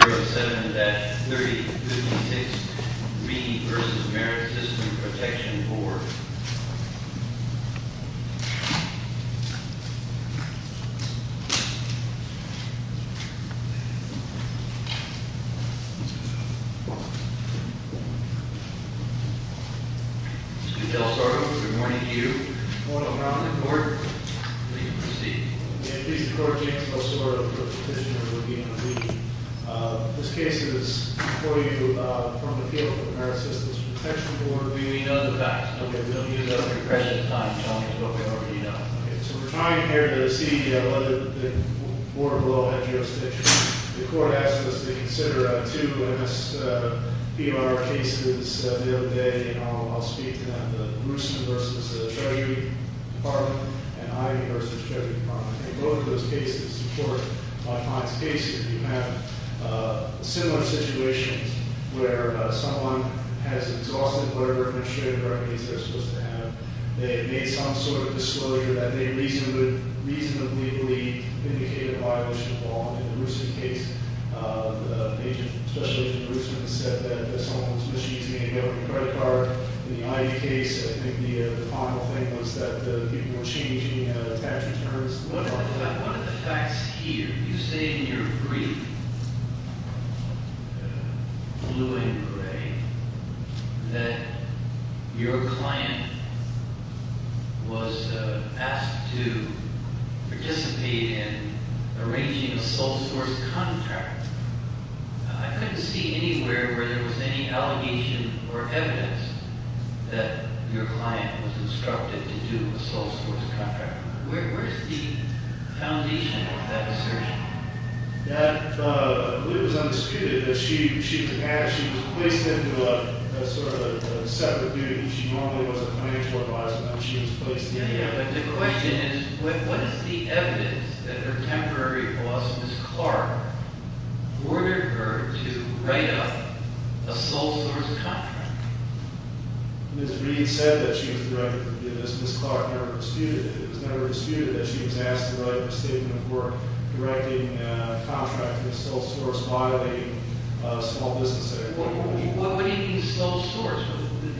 Senate Bill 7-3056, Meeting versus Merit System Protection Board. Mr. DelSoro, good morning to you. Good morning, Your Honor. The court may proceed. Please, Your Honor, James DelSoro, Petitioner of the Human Rights Committee. This case is for you from the field of the Merit Systems Protection Board. We know the facts. Okay, we don't need it at the present time. Tell me what we already know. Okay, so we're trying here to see whether the board below had jurisdiction. The court asked us to consider two MSPB cases the other day. And I'll speak to them, the Roosman versus the Treasury Department, and Ivey versus the Treasury Department. And both of those cases support my client's case. If you have similar situations where someone has exhaustive murder of an illustrated recognizance they're supposed to have. They made some sort of disclosure that they reasonably indicated a violation of law. In the Roosman case, Special Agent Roosman said that someone was using a credit card. In the Ivey case, I think the final thing was that the people were changing tax returns. What about one of the facts here? You say in your brief, blue and gray, that your client was asked to participate in arranging a sole source contract. I couldn't see anywhere where there was any allegation or evidence that your client was instructed to do a sole source contract. Where's the foundation of that assertion? That was undisputed, that she was placed into a sort of a set of duties. She normally was a financial advisor, but she was placed into- Yeah, but the question is, what is the evidence that her temporary boss, Ms. Clark, ordered her to write up a sole source contract? Ms. Reed said that she was directed to do this. Ms. Clark never disputed it. It was never disputed that she was asked to write a statement of work directing a contract for a sole source by a small business that- What do you mean, a sole source?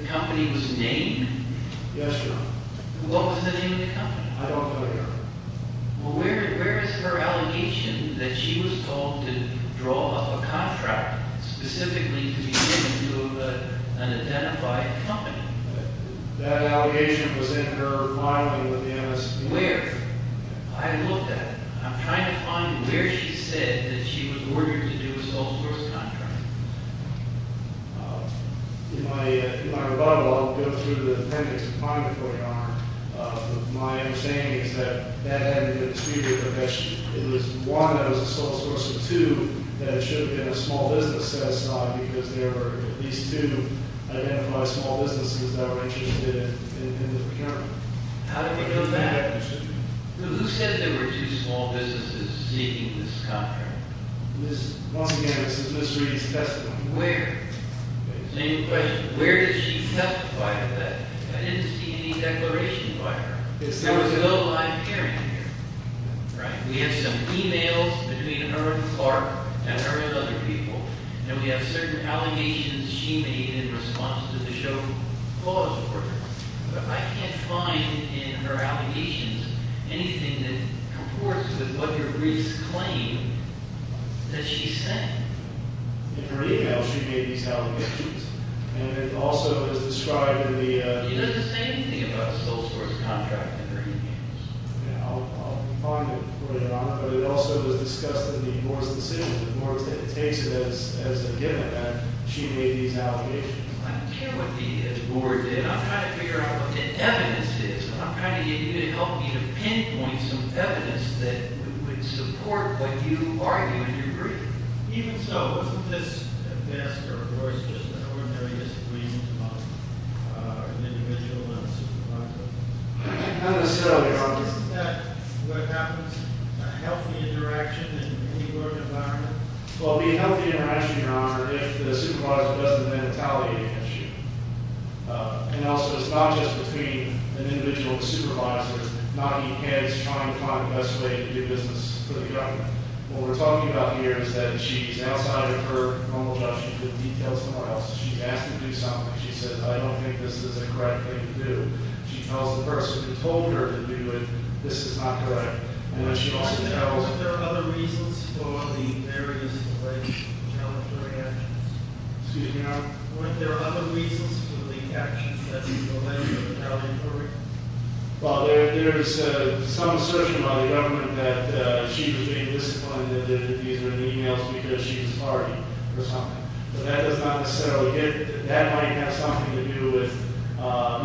The company was named? Yes, Your Honor. What was the name of the company? I don't know, Your Honor. Well, where is her allegation that she was told to draw up a contract specifically to be given to an identified company? That allegation was in her filing with the MSP- Where? I looked at it. I'm trying to find where she said that she was ordered to do a sole source contract. In my rebuttal, I'll go through the appendix and find it for you, Your Honor. But my understanding is that that had to do with a dispute with her. It was one that was a sole source, and two that it should have been a small business set aside, because there were at least two identified small businesses that were interested in this procurement. How did we know that? Who said there were two small businesses seeking this contract? Once again, this is Ms. Reed's testimony. Where? Same question, where did she testify to that? I didn't see any declaration by her. There was no live hearing here, right? We have some emails between her and Clark, and her and other people, and we have certain allegations she made in response to the show clause order. But I can't find in her allegations anything that comports with what your briefs claim that she said. In her email, she made these allegations. And it also is described in the- She doesn't say anything about a sole source contract in her emails. Yeah, I'll find it for you, Your Honor. But it also is discussed in the board's decision. The board takes it as a given that she made these allegations. I don't care what the board did. I'm trying to figure out what the evidence is. I'm trying to get you to help me to pinpoint some evidence that would support what you argue in your brief. Even so, isn't this a best or worst just an ordinary disagreement among an individual and a supervisor? Not necessarily, Your Honor. Isn't that what happens? A healthy interaction in any work environment? Well, it would be a healthy interaction, Your Honor, if the supervisor wasn't retaliating against you. And also, it's not just between an individual and a supervisor. Not even as trying to find the best way to do business for the government. What we're talking about here is that she's outside of her normal job. She could detail somewhere else. She's asked to do something. She says, I don't think this is the correct thing to do. She tells the person who told her to do it, this is not correct. And then she also tells- Weren't there other reasons for the various ways of challenging actions? Excuse me, Your Honor? Weren't there other reasons for the actions that you delivered that were challenging for her? Well, there's some assertion by the government that she was being disciplined and that these were emails because she was tardy or something. But that does not necessarily, that might have something to do with,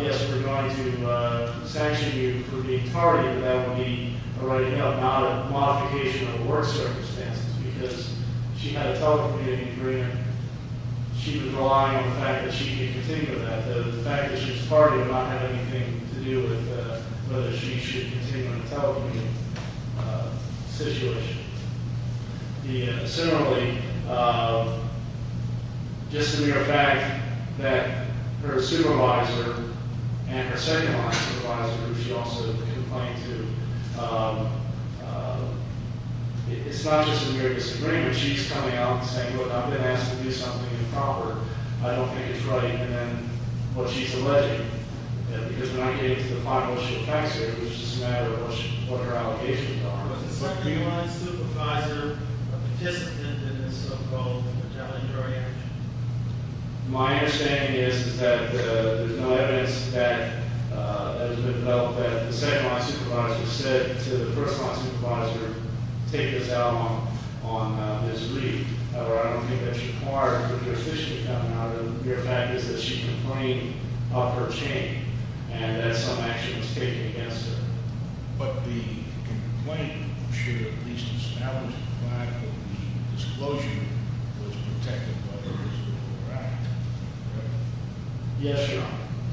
yes, we're going to sanction you for being tardy, but that would be a writing-up, not a modification of work circumstances, because she had a telecommuting career. And she was relying on the fact that she could continue that. The fact that she was tardy did not have anything to do with whether she should continue in a telecommuting situation. Similarly, just the mere fact that her supervisor and her second line supervisor, who she also complained to, it's not just a mere disagreement. She's coming out and saying, look, I've been asked to do something improper. I don't think it's right. And then, well, she's alleging it, because when I came to find out what she attacks her, it was just a matter of what her allocations are. Was the second-line supervisor a participant in this so-called challenge or reaction? My understanding is that there's no evidence that has been developed that the second-line supervisor said to the first-line supervisor, take this out on this wreath. However, I don't think that she's tardy. The mere fact is that she complained of her chain, and that some action was taken against her. But the complaint should at least establish the fact that the disclosure was protected by her as well, correct? Yes, Your Honor.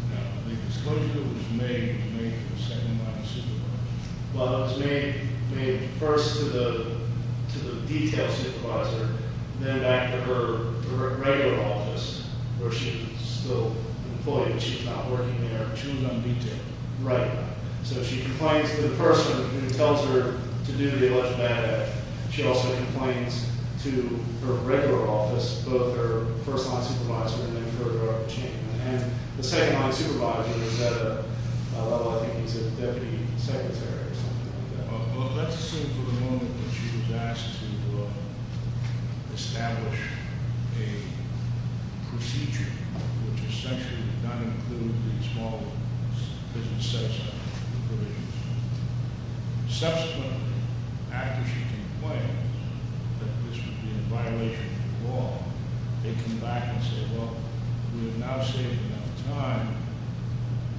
Now, the disclosure was made by the second-line supervisor? Well, it was made first to the detail supervisor, then back to her regular office, where she's still employed. She's not working there. She was on detail. Right. So she complains to the person who tells her to do the alleged bad act. She also complains to her regular office, both her first-line supervisor and then her chain. And the second-line supervisor, is that a, I think he's a deputy secretary or something like that. Let's assume for the moment that she was asked to establish a procedure which essentially would not include the small business set-aside, the provisions. Subsequently, after she complained that this would be a violation of the law, they come back and say, well, we have now saved enough time,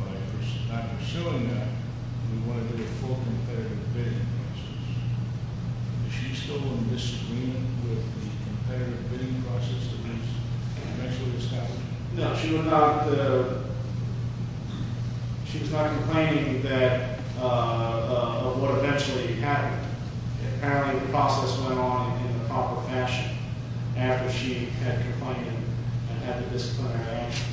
but if we're not pursuing that, we want to get a full competitive bidding process. Is she still in disagreement with the competitive bidding process that eventually was happening? No, she was not complaining of what eventually happened. Apparently, the process went on in the proper fashion after she had complained and had the disciplinary actions.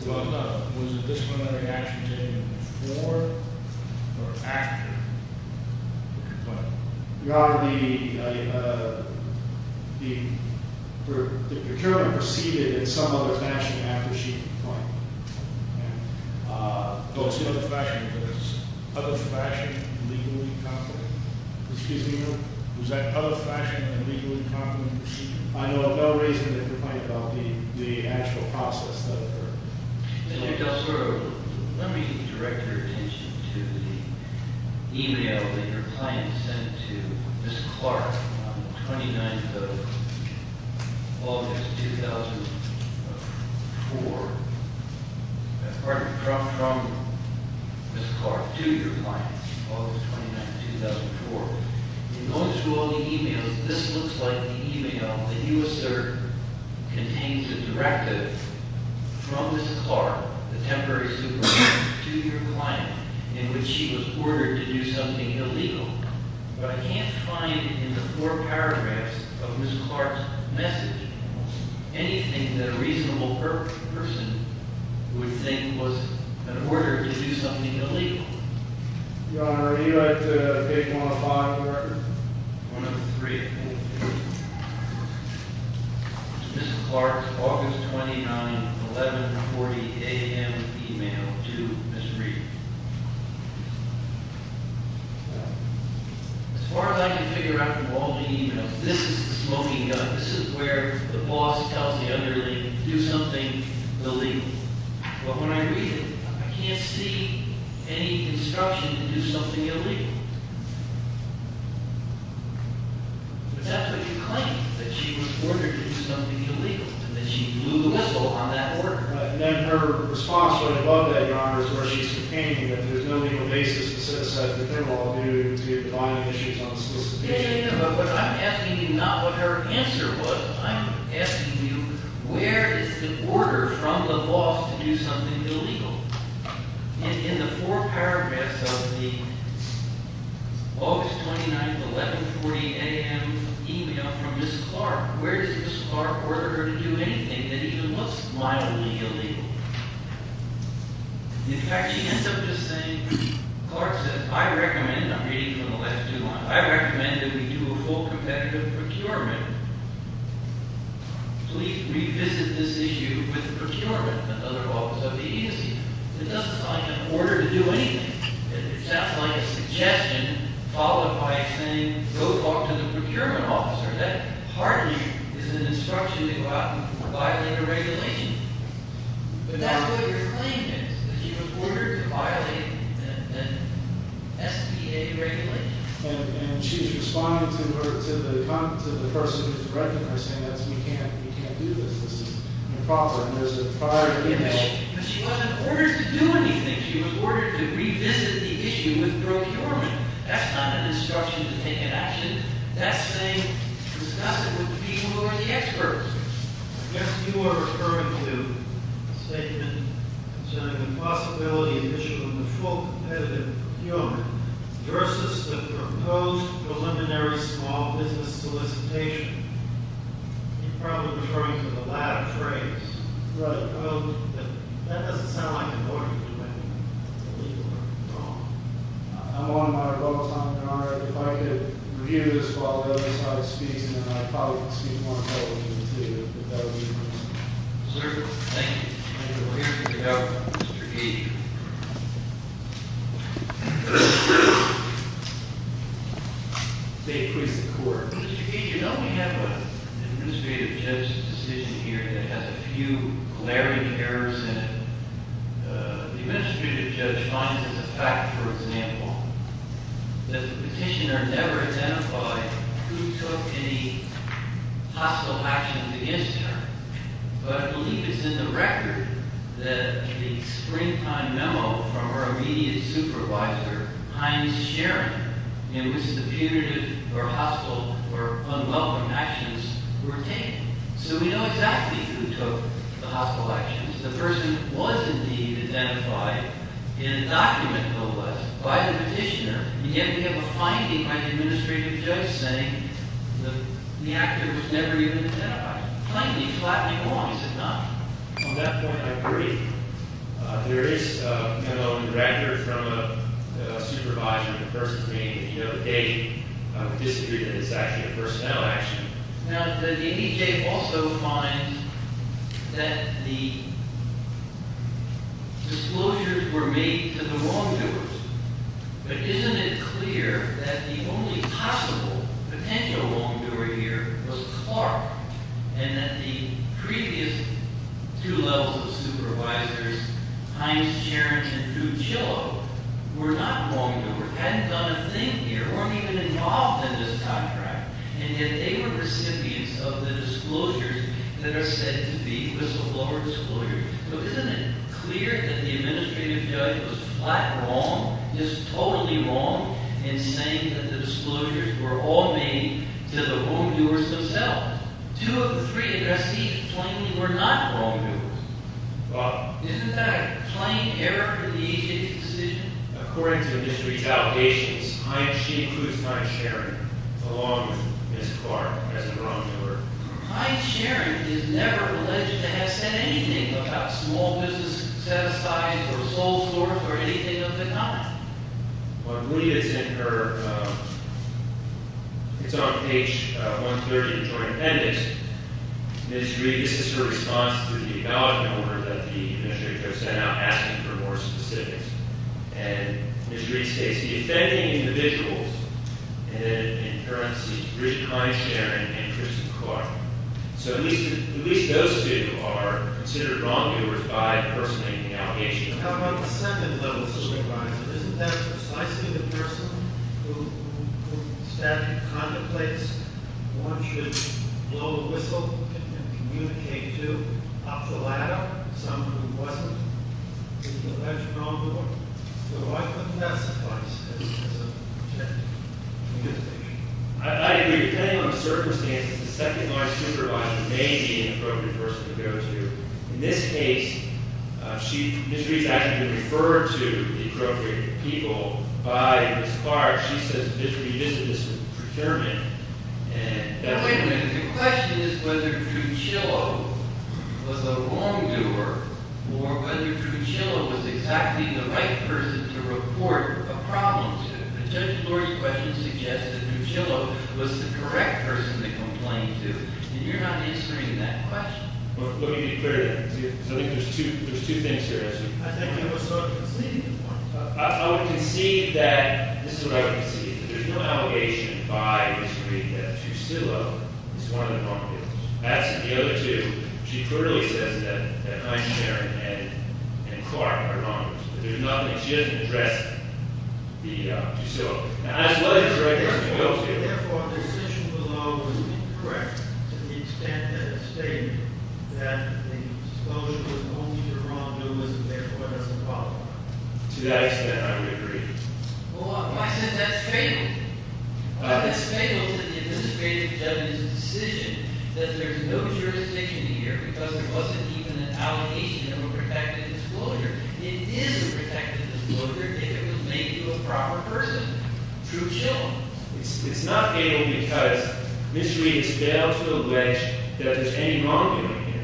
So was the disciplinary action taken before or after the complaint? The procurement proceeded in some other fashion after she complained, okay? Excuse me, was that other fashion of legal incompetence? I know of no reason to complain about the actual process that occurred. Let me direct your attention to the email that your client sent to Ms. Clark on the 29th of August, 2004. I'm sorry, from Ms. Clark to your client, August 29th, 2004. In going through all the emails, this looks like the email that you assert contains a directive from Ms. Clark, the temporary supervisor, to your client, in which she was ordered to do something illegal. But I can't find in the four paragraphs of Ms. Clark's message anything that a reasonable person would think was an order to do something illegal. Your Honor, would you like to take one of five, correct? One of three, okay. Ms. Clark's August 29th, 11.40 AM email to Ms. Reed. As far as I can figure out from all the emails, this is the smoking gun. This is where the boss tells the underling to do something illegal. But when I read it, I can't see any instruction to do something illegal. But that's what you claim, that she was ordered to do something illegal, that she blew the whistle on that order. And then her response right above that, Your Honor, is where she's complaining that there's no legal basis to set that they're all due to be able to find issues on a specific issue. But I'm asking you not what her answer was. I'm asking you, where is the order from the boss to do something illegal? In the four paragraphs of the August 29th, 11.40 AM email from Ms. Clark. Where does Ms. Clark order her to do anything that even looks mildly illegal? In fact, she ends up just saying, Clark says, I recommend, I'm reading from the last two lines. I recommend that we do a full competitive procurement. Please revisit this issue with the procurement of the office of the agency. It doesn't sound like an order to do anything. It sounds like a suggestion followed by saying, go talk to the procurement officer. That hardly is an instruction to violate a regulation. But that's what your claim is, that she was ordered to violate an SBA regulation. And she's responding to the person who's directing her, saying, we can't do this. This is improper. And there's a prior- But she wasn't ordered to do anything. She was ordered to revisit the issue with procurement. That's not an instruction to take an action. That's saying, discuss it with the people who are the experts. I guess you are referring to a statement concerning the possibility of a full competitive procurement versus the proposed preliminary small business solicitation. You're probably referring to the latter phrase. But that doesn't sound like an order to do anything. I think you're wrong. I'm on my roll, Senator Conrad. If I could review this while the other side speaks, and then I probably can speak more intelligently, too, if that would be the case. Sir, thank you. Senator, we'll hear from the Governor. Mr. Gage. State please, the court. Mr. Gage, you know we have an administrative judge's decision here that has a few glaring errors in it. The administrative judge finds as a fact, for example, that the petitioner never identified who took any hostile actions against her. But I believe it's in the record that the springtime memo from her immediate supervisor, Heinz Schering, in which the punitive or hostile or unwelcome actions were taken. So we know exactly who took the hostile actions. The person was indeed identified in a document, no less, by the petitioner. And yet we have a finding by the administrative judge saying the actor was never even identified. Plainly flattening wrongs, is it not? On that point, I agree. There is a memo in the record from a supervisor of the person's name. If you know the date, I would disagree that it's actually a personnel action. Now, the DHA also finds that the disclosures were made to the wrongdoers. But isn't it clear that the only possible potential wrongdoer here was Clark? And that the previous two levels of supervisors, Heinz Schering and Drew Chillow, were not wrongdoers, hadn't done a thing here, weren't even involved in this contract. And yet they were recipients of the disclosures that are said to be whistleblower disclosures. But isn't it clear that the administrative judge was flat wrong, just totally wrong, in saying that the disclosures were all made to the wrongdoers themselves? Two of the three recipients claimed they were not wrongdoers. Well, isn't that a plain error in the agency's decision? According to Ms. Retaliation's, she includes Heinz Schering, along with Ms. Clark, as a wrongdoer. Heinz Schering is never alleged to have said anything about small business set-asides or sole source or anything of the kind. I believe it's in her, it's on page 130 of the joint appendix. Ms. Reed, this is her response to the evaluation order that the administrative judge sent out, asking for more specifics. And Ms. Reed states, defending individuals in currency, Richard Heinz Schering and Tristan Clark. So at least those two are considered wrongdoers by person making allegations. How about the second level supervisor? Isn't that precisely the person who statically contemplates one should blow a whistle and communicate to, up the ladder, someone who wasn't? Isn't that a wrongdoer? So why couldn't that suffice as a protected communication? I agree, depending on the circumstances, the second-line supervisor may be an appropriate person to go to. In this case, Ms. Reed's actually been referred to the appropriate people by Ms. Clark. She says Ms. Reed isn't a determent. And that's- Wait a minute. The question is whether Drew Chilow was a wrongdoer or whether Drew Chilow was exactly the right person to report a problem to. But Judge Flores' question suggests that Drew Chilow was the correct person to complain to. And you're not answering that question. Well, you need to clear that. Because I think there's two things here, actually. I think you were sort of conceding at one time. I would concede that- this is what I would concede, that there's no allegation by Ms. Reed that Drew Chilow is one of the wrongdoers. That's the other two. She clearly says that Eichner and Clark are wrongdoers. But there's nothing. She hasn't addressed Drew Chilow. And I just want to hear the right person to go to. Therefore, the decision below is incorrect to the extent that it stated that the disclosure was only to wrongdoers and therefore doesn't qualify. To that extent, I would agree. Well, I said that's fatal. That's fatal to the administrative judge's decision that there's no jurisdiction here because there wasn't even an allegation of a protected disclosure. It is a protected disclosure if it was made to a proper person, Drew Chilow. It's not fatal because Ms. Reed has failed to allege that there's any wrongdoing here.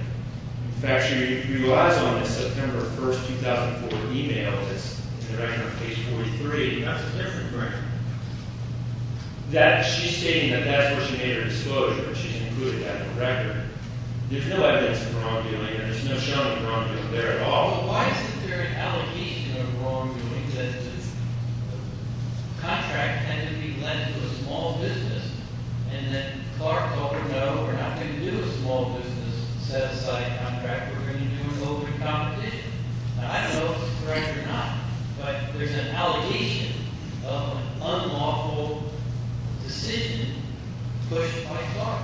In fact, she relies on the September 1, 2004 email that's in the direction of page 43. That's a different frame. She's stating that that's where she made her disclosure, but she's included that in the record. There's no evidence of wrongdoing, and there's no showing of wrongdoing there at all. Why is it there an allegation of wrongdoing that the contract had to be lent to a small business and that Clark told her, no, we're not going to do a small business set-aside contract. We're going to do an open competition. Now, I don't know if this is correct or not, but there's an allegation of an unlawful decision pushed by Clark.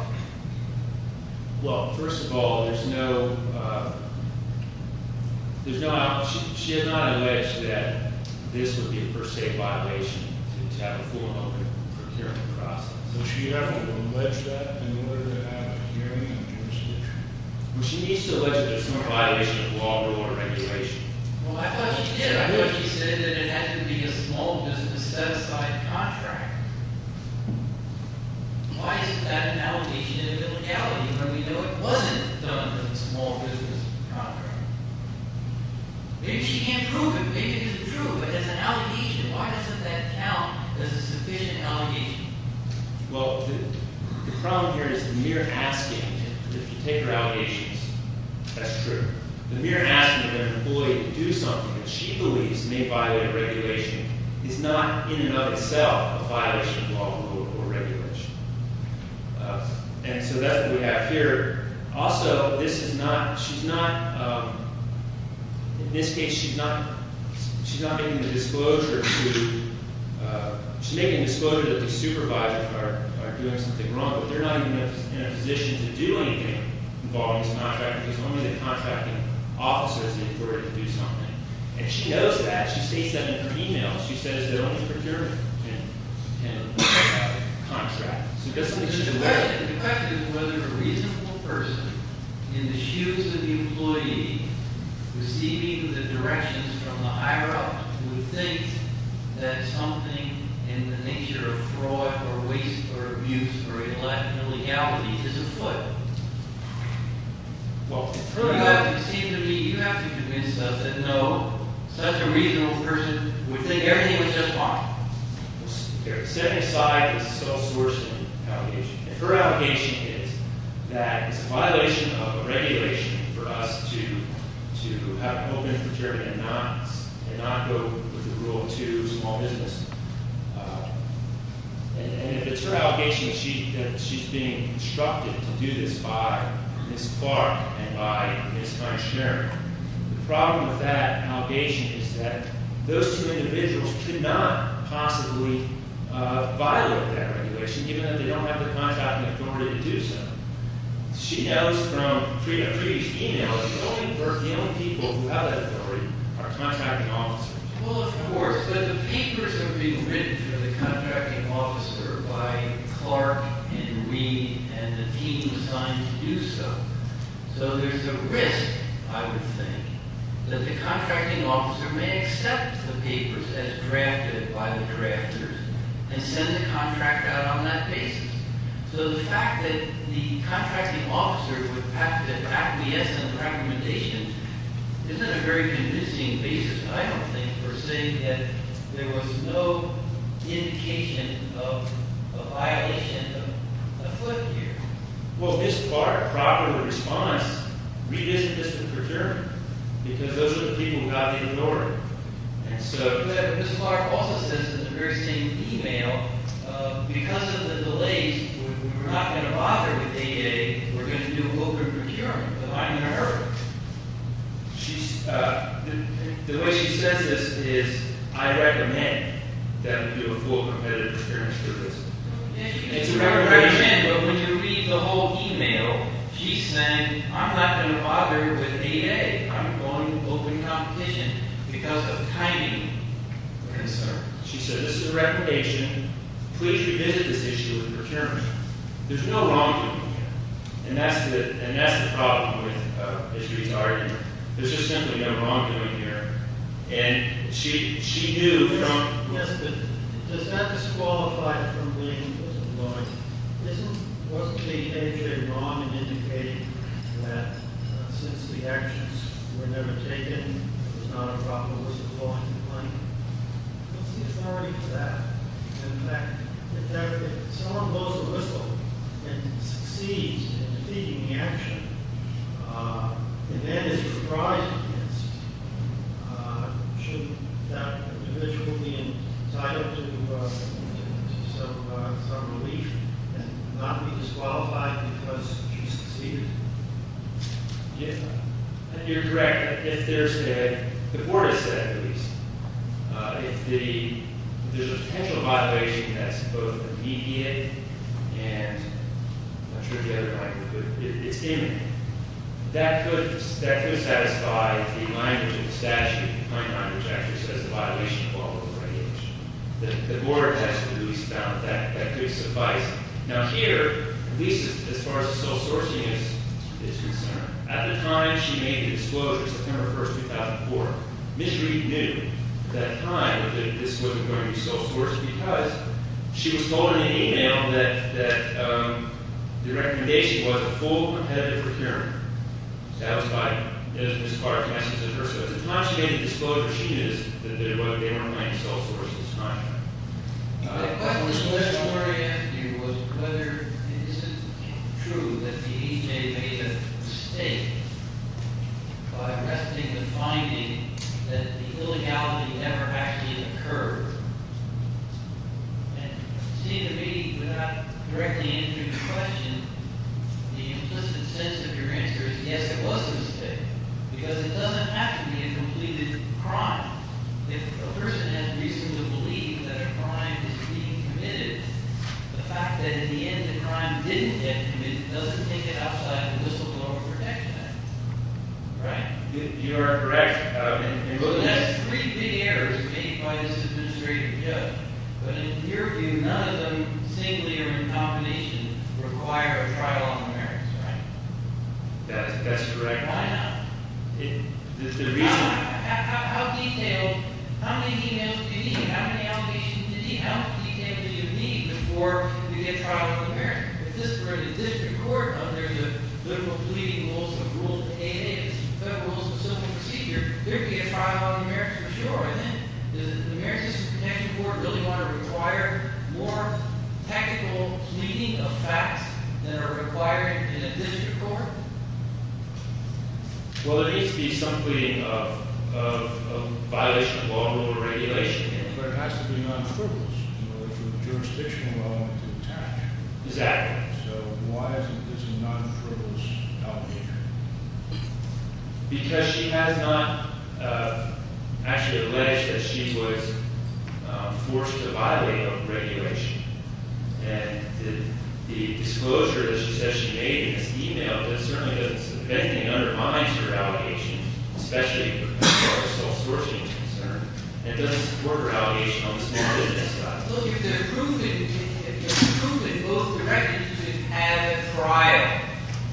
Well, first of all, there's no, she has not alleged that this would be a per se violation to have a full and open procurement process. Would she ever allege that in order to have a hearing on the disclosure? Well, she needs to allege that there's no violation of law or regulation. Well, I thought she did. I thought she said that it had to be a small business set-aside contract. Why is that an allegation of illegality when we know it wasn't done as a small business contract? Maybe she can't prove it, maybe it isn't true, but it's an allegation. Why doesn't that count as a sufficient allegation? Well, the problem here is the mere asking to take her allegations. That's true. The mere asking an employee to do something that she believes may violate a regulation is not in and of itself a violation of law or regulation. And so that's what we have here. Also, this is not, she's not, in this case, she's not, she's not making a disclosure to, she's making a disclosure that the supervisors are doing something wrong, but they're not even in a position to do anything involving this contract because only the contracting officers are required to do something. And she knows that. She states that in her email. She says that only the procurement can, can contract. So it doesn't make sense. The question is whether a reasonable person in the shoes of the employee receiving the directions from the higher-up who thinks that something in the nature of fraud or waste or abuse or illegality is afoot. Well, you have to convince us that no, such a reasonable person would think everything was just fine. Okay, setting aside the self-sourcing allegation, if her allegation is that it's a violation of a regulation for us to, to have an open procurement and not, and not go with the rule to small business, and if it's her allegation, she, that she's being instructed to do this by Ms. Clark and by Ms. Feinstein. The problem with that allegation is that those two individuals could not possibly violate that regulation, even though they don't have the contracting authority to do so. She knows from Frieda, Frieda's email, that only her, the only people who have that authority are contracting officers. Well, of course, but the papers are being written for the contracting officer by Clark and Reed and the team assigned to do so. So there's a risk, I would think, that the contracting officer may accept the papers as drafted by the drafters and send the contract out on that basis. So the fact that the contracting officer would have to, to acquiesce in the recommendations isn't a very convincing basis, I don't think, for saying that there was no indication of a violation of the foot here. Well, Ms. Clark, properly responds, redistributes the procurement, because those are the people who have to ignore it. And so- Yeah, but Ms. Clark also says in the very same email, because of the delays, we're not going to bother with ADA, we're going to do open procurement, but I'm going to hurt her. She's, uh, the way she says this is, I recommend that we do a full competitive procurement service. It's a recommendation- It's a recommendation, but when you read the whole email, she's saying, I'm not going to bother with ADA, I'm going to open competition because of timing concerns. She said, this is a recommendation, please revisit this issue with procurement. There's no wrongdoing here. And that's the, and that's the problem with, uh, Ms. Greer's argument. There's just simply no wrongdoing here. And she, she knew from- Yes, but, does that disqualify it from being inclusive of money? Isn't, wasn't the ADA wrong in indicating that, uh, since the actions were never taken, it was not a problem, it wasn't wrong to claim it? What's the authority for that? In fact, if someone goes to whistle and succeeds in taking the action, uh, and then is reprised against, uh, shouldn't that individual be entitled to, uh, to some, uh, some relief and not be disqualified because she succeeded? Yeah, you're correct. If there's a, the board has said, at least, uh, if the, if there's a potential violation that's both immediate and, I'm sure the other guy could, it's imminent, that could, that could satisfy the language of the statute, the point on which actually says the violation falls under the regulation. The, the board has, at least, found that, that could suffice. Now here, at least as far as the sole sourcing is, is concerned, at the time she made the disclosure, September 1st, 2004, Ms. Reed knew at that time that this wasn't going to be sole sourced because she was told in an email that, that, um, the recommendation was a full competitive procurement, satisfied, as Ms. Clark has said, so at the time she made the disclosure, she knew that there was, they weren't going to be sole sourced at this time. My question was, the question I wanted to ask you was whether, is it true that the EJ made a mistake by arresting the finding that the illegality never actually occurred? And it seemed to me, without directly answering your question, the implicit sense of your answer is, yes, it was a mistake, because it doesn't have to be a completed crime. If a person has reason to believe that a crime is being committed, the fact that in the end the crime didn't get committed doesn't take it outside the whistleblower protection act. Right? You, you are correct. Um, and so that's three big errors made by this administrative judge. But in your view, none of them, singly or in combination, require a trial on the merits, right? That's, that's correct. Why not? It, it's the reason, how, how, how detailed, how many emails do you need? How many allegations do you need? How much detail do you need before you get a trial on the merits? If this were a district court, and there's a federal pleading rules, a rule that the ANA is, federal rules of civil procedure, there'd be a trial on the merits for sure. And then, does the emeritus protection court really want to require more tactical pleading of facts than are required in a district court? Well, there needs to be some pleading of, of, of violation of law and order regulation. But it has to be non-frivolous in order for the jurisdiction law to attach. Exactly. So why isn't this a non-frivolous obligation? Because she has not, uh, actually alleged that she was, uh, forced to violate a regulation. And the, the disclosure that she says she made in this email, that certainly doesn't mean that it undermines her allegations, especially as far as self-sourcing is concerned. It doesn't support her allegation on the small business side. Look, if they're proving, if they're proving both directions to have a trial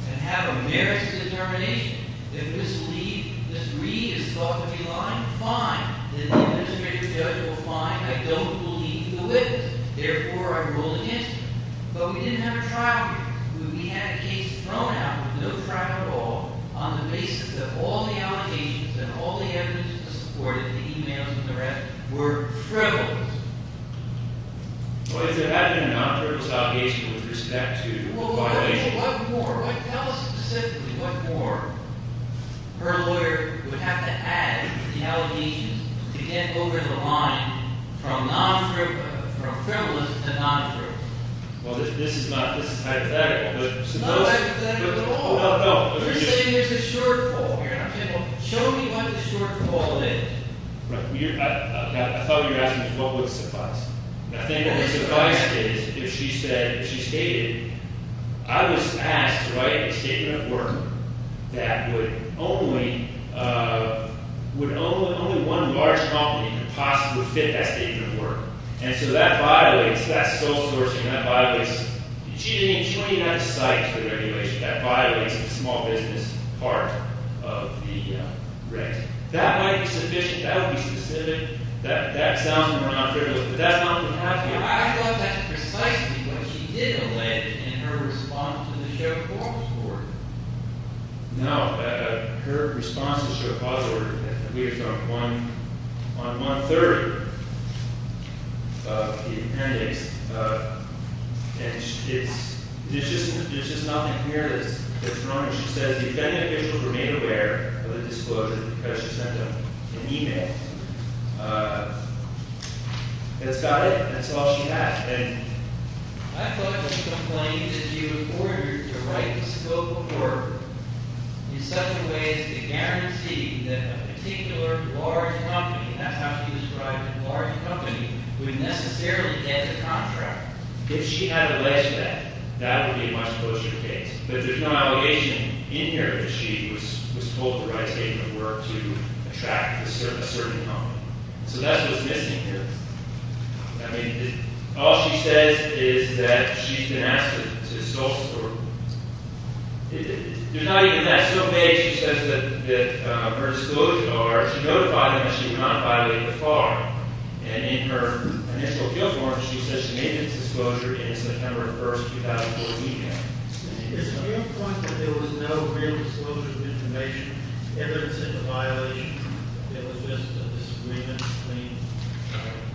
and have a merits determination, if this lead, this read is thought to be lying, fine. Then the administrative judge will find, I don't believe the witness. Therefore, I'm ruling against you. But we didn't have a trial here. We had a case thrown out with no trial at all on the basis that all the allegations and all the evidence to support it, the emails and the rest were frivolous. Well, if there had been a non-frivolous obligation with respect to the violations. What more? What, tell us specifically what more her lawyer would have to add to the allegations to get over the line from non-frivolous, from frivolous to non-frivolous. Well, this is not, this is hypothetical. It's not hypothetical at all. No, no. You're saying there's a shortfall here. I'm saying, well, show me what the shortfall is. Right, I thought you were asking what would suffice. I think what would suffice is if she said, if she stated, I was asked to write a statement of work that would only, would only, only one large company could possibly fit that statement of work. And so that violates, that's sole sourcing. That violates achieving 29 sites for the regulation. That violates the small business part of the rent. That might be sufficient. That would be specific. That sounds more non-frivolous. But that's not what happened here. I thought that's precisely what she did allege in her response to the sheriff's office board. Now, her response to the sheriff's office board, we have found one, on month 30 of the appendix, and it's, there's just, there's just nothing here that's, that's wrong. And she says, the defendant should remain aware of the disclosure because she sent him an e-mail. And it's got it, and that's all she has. And I thought she complained that she was ordered to write the scope of work in such a way as to guarantee that a particular large company, and that's how she described it, large company would necessarily get the contract. If she had alleged that, that would be much closer to the case. But there's no allegation in here that she was, was told to write a statement of work to attract a certain company. So that's what's missing here. I mean, all she says is that she's been asked to, to solicit work. It, it, there's not even that. So maybe she says that, that her disclosure, or she notified him that she would not violate the FAR. And in her initial appeal form, she says she made this disclosure in September 1st, 2014. Is the point that there was no real disclosure of information, evidence of a violation? It was just a disagreement between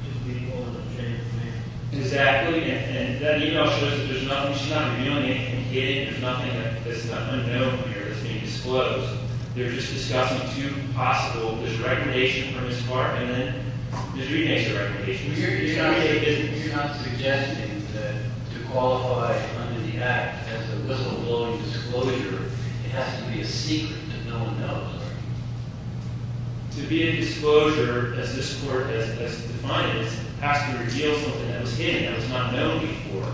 his people and the Chamber of Commerce? Exactly, and, and that e-mail shows that there's nothing, she's not revealing it. She can get it. There's nothing that, that's not unknown here that's being disclosed. They're just discussing two possible, there's recognition from his partner, and then Mr. Reid makes a recognition. You're, you're not suggesting that, to qualify under the Act as a, as a lowly disclosure, it has to be a secret that no one knows, are you? To be a disclosure, as this Court has, has defined it, has to reveal something that was hidden, that was not known before.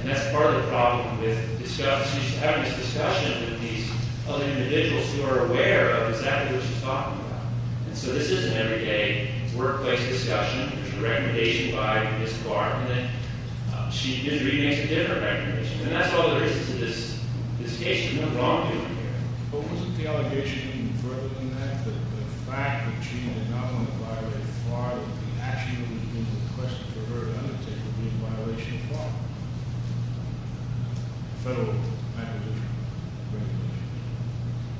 And that's part of the problem with discuss, you should have this discussion with these other individuals who are aware of exactly what she's talking about. And so this isn't an everyday workplace discussion. There's a recommendation by Ms. Barton that she, Mr. Reid makes a different recommendation. And that's all there is to this, this case. There's no wrongdoing here. What was the allegation further than that, that the fact that she did not want to violate FARA, that the action that we've been requested for her to undertake would be in violation of FARA? Federal acquisition, regulation.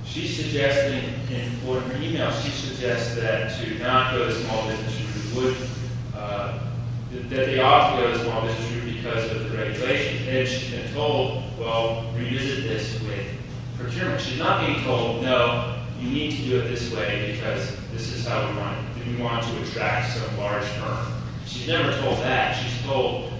She's suggesting in, or in her email, she suggests that to not go to the small business group would, that they ought to go to the small business group because of the regulation. And she's been told, well, revisit this with procurement. She's not being told, no, you need to do it this way because this is how we want it. We want to attract some large firm. She's never told that. She's told,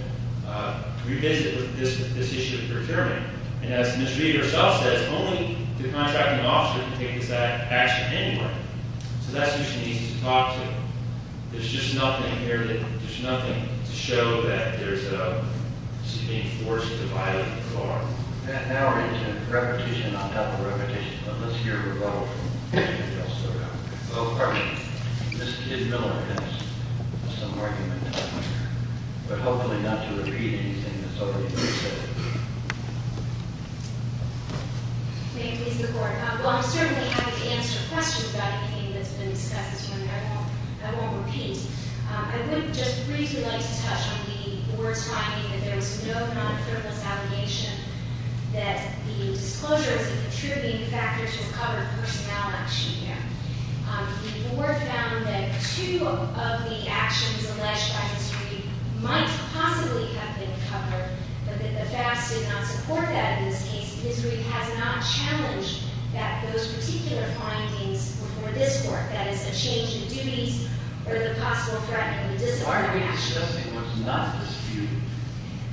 revisit with this, this issue with procurement. And as Ms. Reid herself says, only the contracting officer can take this action anyway. So that's who she needs to talk to. There's just nothing here that, there's nothing to show that there's a, she's being forced to violate FARA. And now we're into repetition on top of repetition. Let's hear a rebuttal from Ms. Barton. Hello, partner. Ms. Miller has some argument. But hopefully not to repeat anything that's already been said. May it please the Court. While I'm certainly happy to answer questions about anything that's been discussed this morning, I won't, I won't repeat. I would just briefly like to touch on the board's finding that there was no non-firmness allegation that the disclosures of contributing factors will cover personality behavior. The board found that two of the actions alleged by Ms. Reid might possibly have been covered, but that the facts did not support that in this case. Ms. Reid has not challenged that, those particular findings before this Court. That is, a change in duties or the possible threat of a disarmament action. That's not disputed.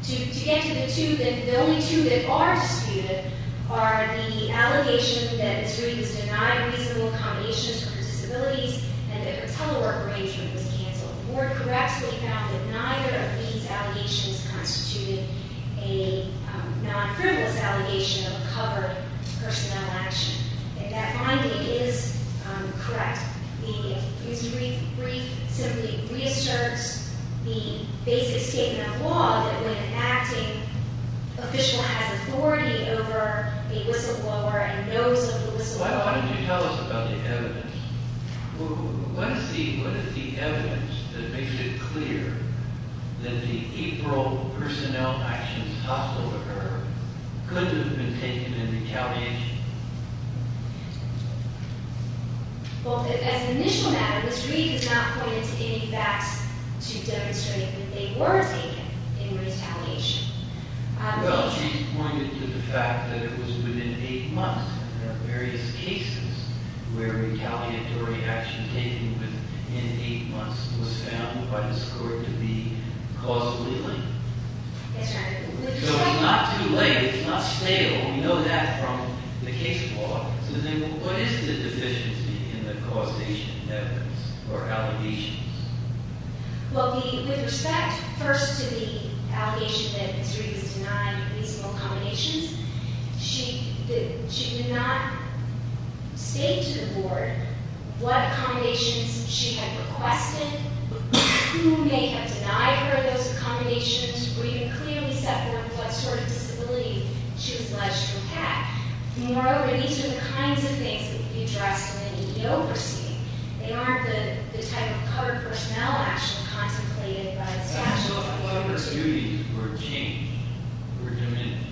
To get to the two that, the only two that are disputed are the allegation that Ms. Reid has denied reasonable accommodations for her disabilities and that her telework arrangement was canceled. The board correctly found that neither of these allegations constituted a non-firmness allegation of a covered personnel action. And that finding is correct. Ms. Reid's brief simply reasserts the basic statement of law that when an acting official has authority over a whistleblower and knows of the whistleblower. Why don't you tell us about the evidence? Well, let's see, what is the evidence that makes it clear that the April personnel actions tossed over her could have been taken in retaliation? Well, as an initial matter, Ms. Reid has not pointed to any facts to demonstrate that they were taken in retaliation. Well, she's pointed to the fact that it was within eight months of various cases where retaliatory action taken within eight months was found by this court to be causally linked. That's right. So it's not too late, it's not stale, we know that from the case law. So then what is the deficiency in the causation evidence or allegations? Well, with respect, first to the allegation that Ms. Reid has denied reasonable accommodations, she did not state to the board what accommodations she had requested, who may have denied her those accommodations, or even clearly set forth what sort of disability she was alleged to have. Moreover, these are the kinds of things that would be addressed in an idiocracy. They aren't the type of covered personnel action contemplated by the statute. So what if her duties were changed, were diminished?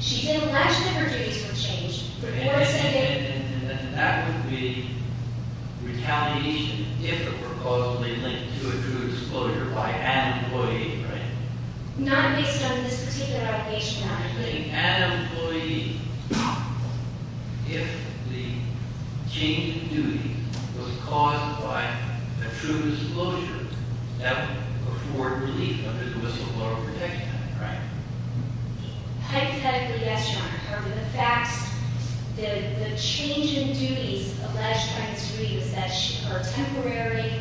She's alleged that her duties were changed, but the board said that- And that would be retaliation if it were causally linked to a true disclosure by an employee, right? Not based on this particular allegation on a plea. An employee, if the change in duty was caused by a true disclosure, that would afford relief under the whistleblower protection act, right? Hypothetically, yes, Your Honor. However, the facts, the change in duties alleged by Ms. Reid was that her temporary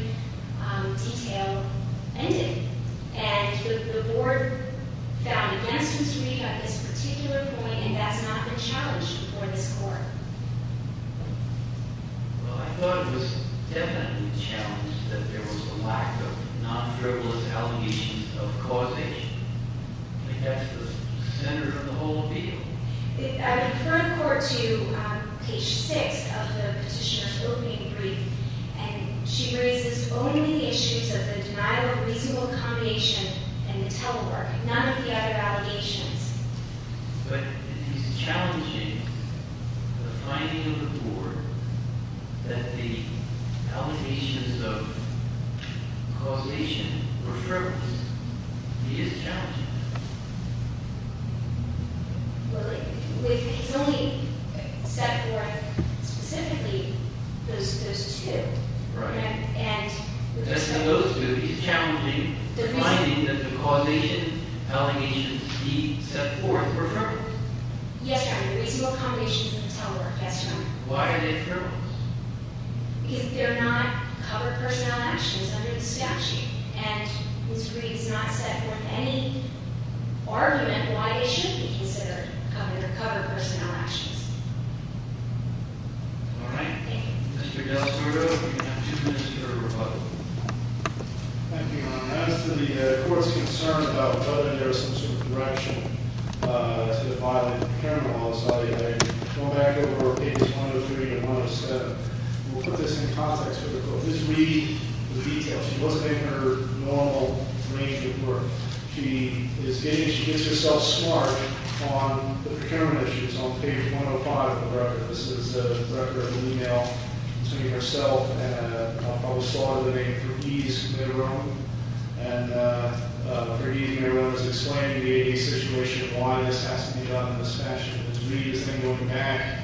detail ended. And the board found against Ms. Reid on this particular point, and that's not been challenged before this court. Well, I thought it was definitely challenged that there was a lack of non-frivolous allegations of causation. I mean, that's the center of the whole deal. I refer the court to page 6 of the petitioner's opening brief. And she raises only the issues of the denial of reasonable accommodation and the telework, none of the other allegations. But if he's challenging the finding of the board that the allegations of causation were frivolous, he is challenging that. Well, he's only set forth specifically those two. Right. And- Just in those two, he's challenging the finding that the causation allegations he set forth were frivolous. Yes, Your Honor, reasonable accommodations and the telework, that's right. Why are they frivolous? Because they're not cover personnel actions under the statute. And Ms. Reid's not set forth any argument why they should be considered cover personnel actions. All right. Thank you. Mr. Gallardo, we have two minutes for your rebuttal. Thank you, Your Honor. As to the court's concern about whether there's some sort of direction to the filing of the parent law, I'll go back over pages 103 to 107. We'll put this in context for the court. Ms. Reid was detailed. She wasn't in her normal range of work. She is getting, she gets herself smart on the procurement issues on page 105 of the record. This is a record of an email between herself and a public slawyer by the name of Ferdiz Medrone. And Ferdiz Medrone is explaining to the ADA situation why this has to be done in this fashion. Ms. Reid is then going back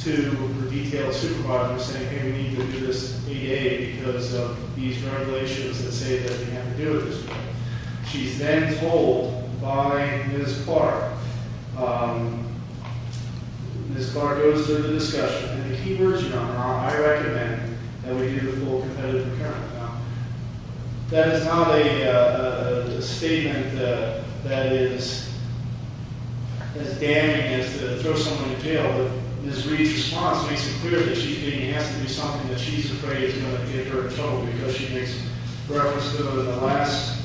to her detailed supervisor and saying, hey, we need to do this ADA because of these regulations that say that we have to do it this way. She's then told by Ms. Barr, Ms. Barr goes through the discussion. In the key version, Your Honor, I recommend that we do the full competitive procurement. That is not a statement that is as damning as to throw someone in jail. Ms. Reid's response makes it clear that she's getting, has to do something that she's afraid is going to get her in trouble because she makes reference to the last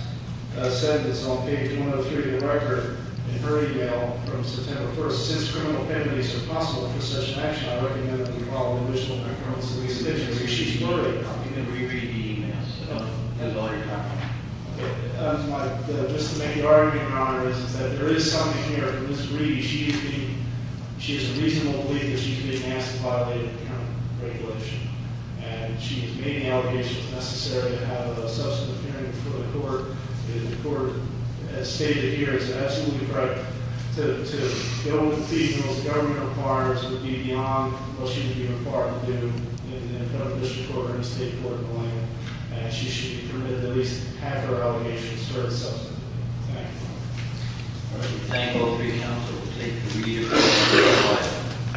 sentence on page 103 of the record in her email from September 1st. Since criminal penalties are possible for such an action, I recommend that we follow the original concurrence of these conditions. Because she's literally talking to Marie Reid emails all the time. Just to make the argument, Your Honor, is that there is something here for Ms. Reid. She has a reasonable belief that she's being asked to violate the current regulation. And she has made the allegations necessary to have a substantive hearing before the court. And the court has stated here, it's absolutely correct, to go with the most governmental requirements would be beyond what she would be required to do in a federal district court or in a state court in the land. And she should be permitted to at least have her allegations heard substantively. Thank you, Your Honor. All right, we thank you all for being here, and we'll take the meeting to a close.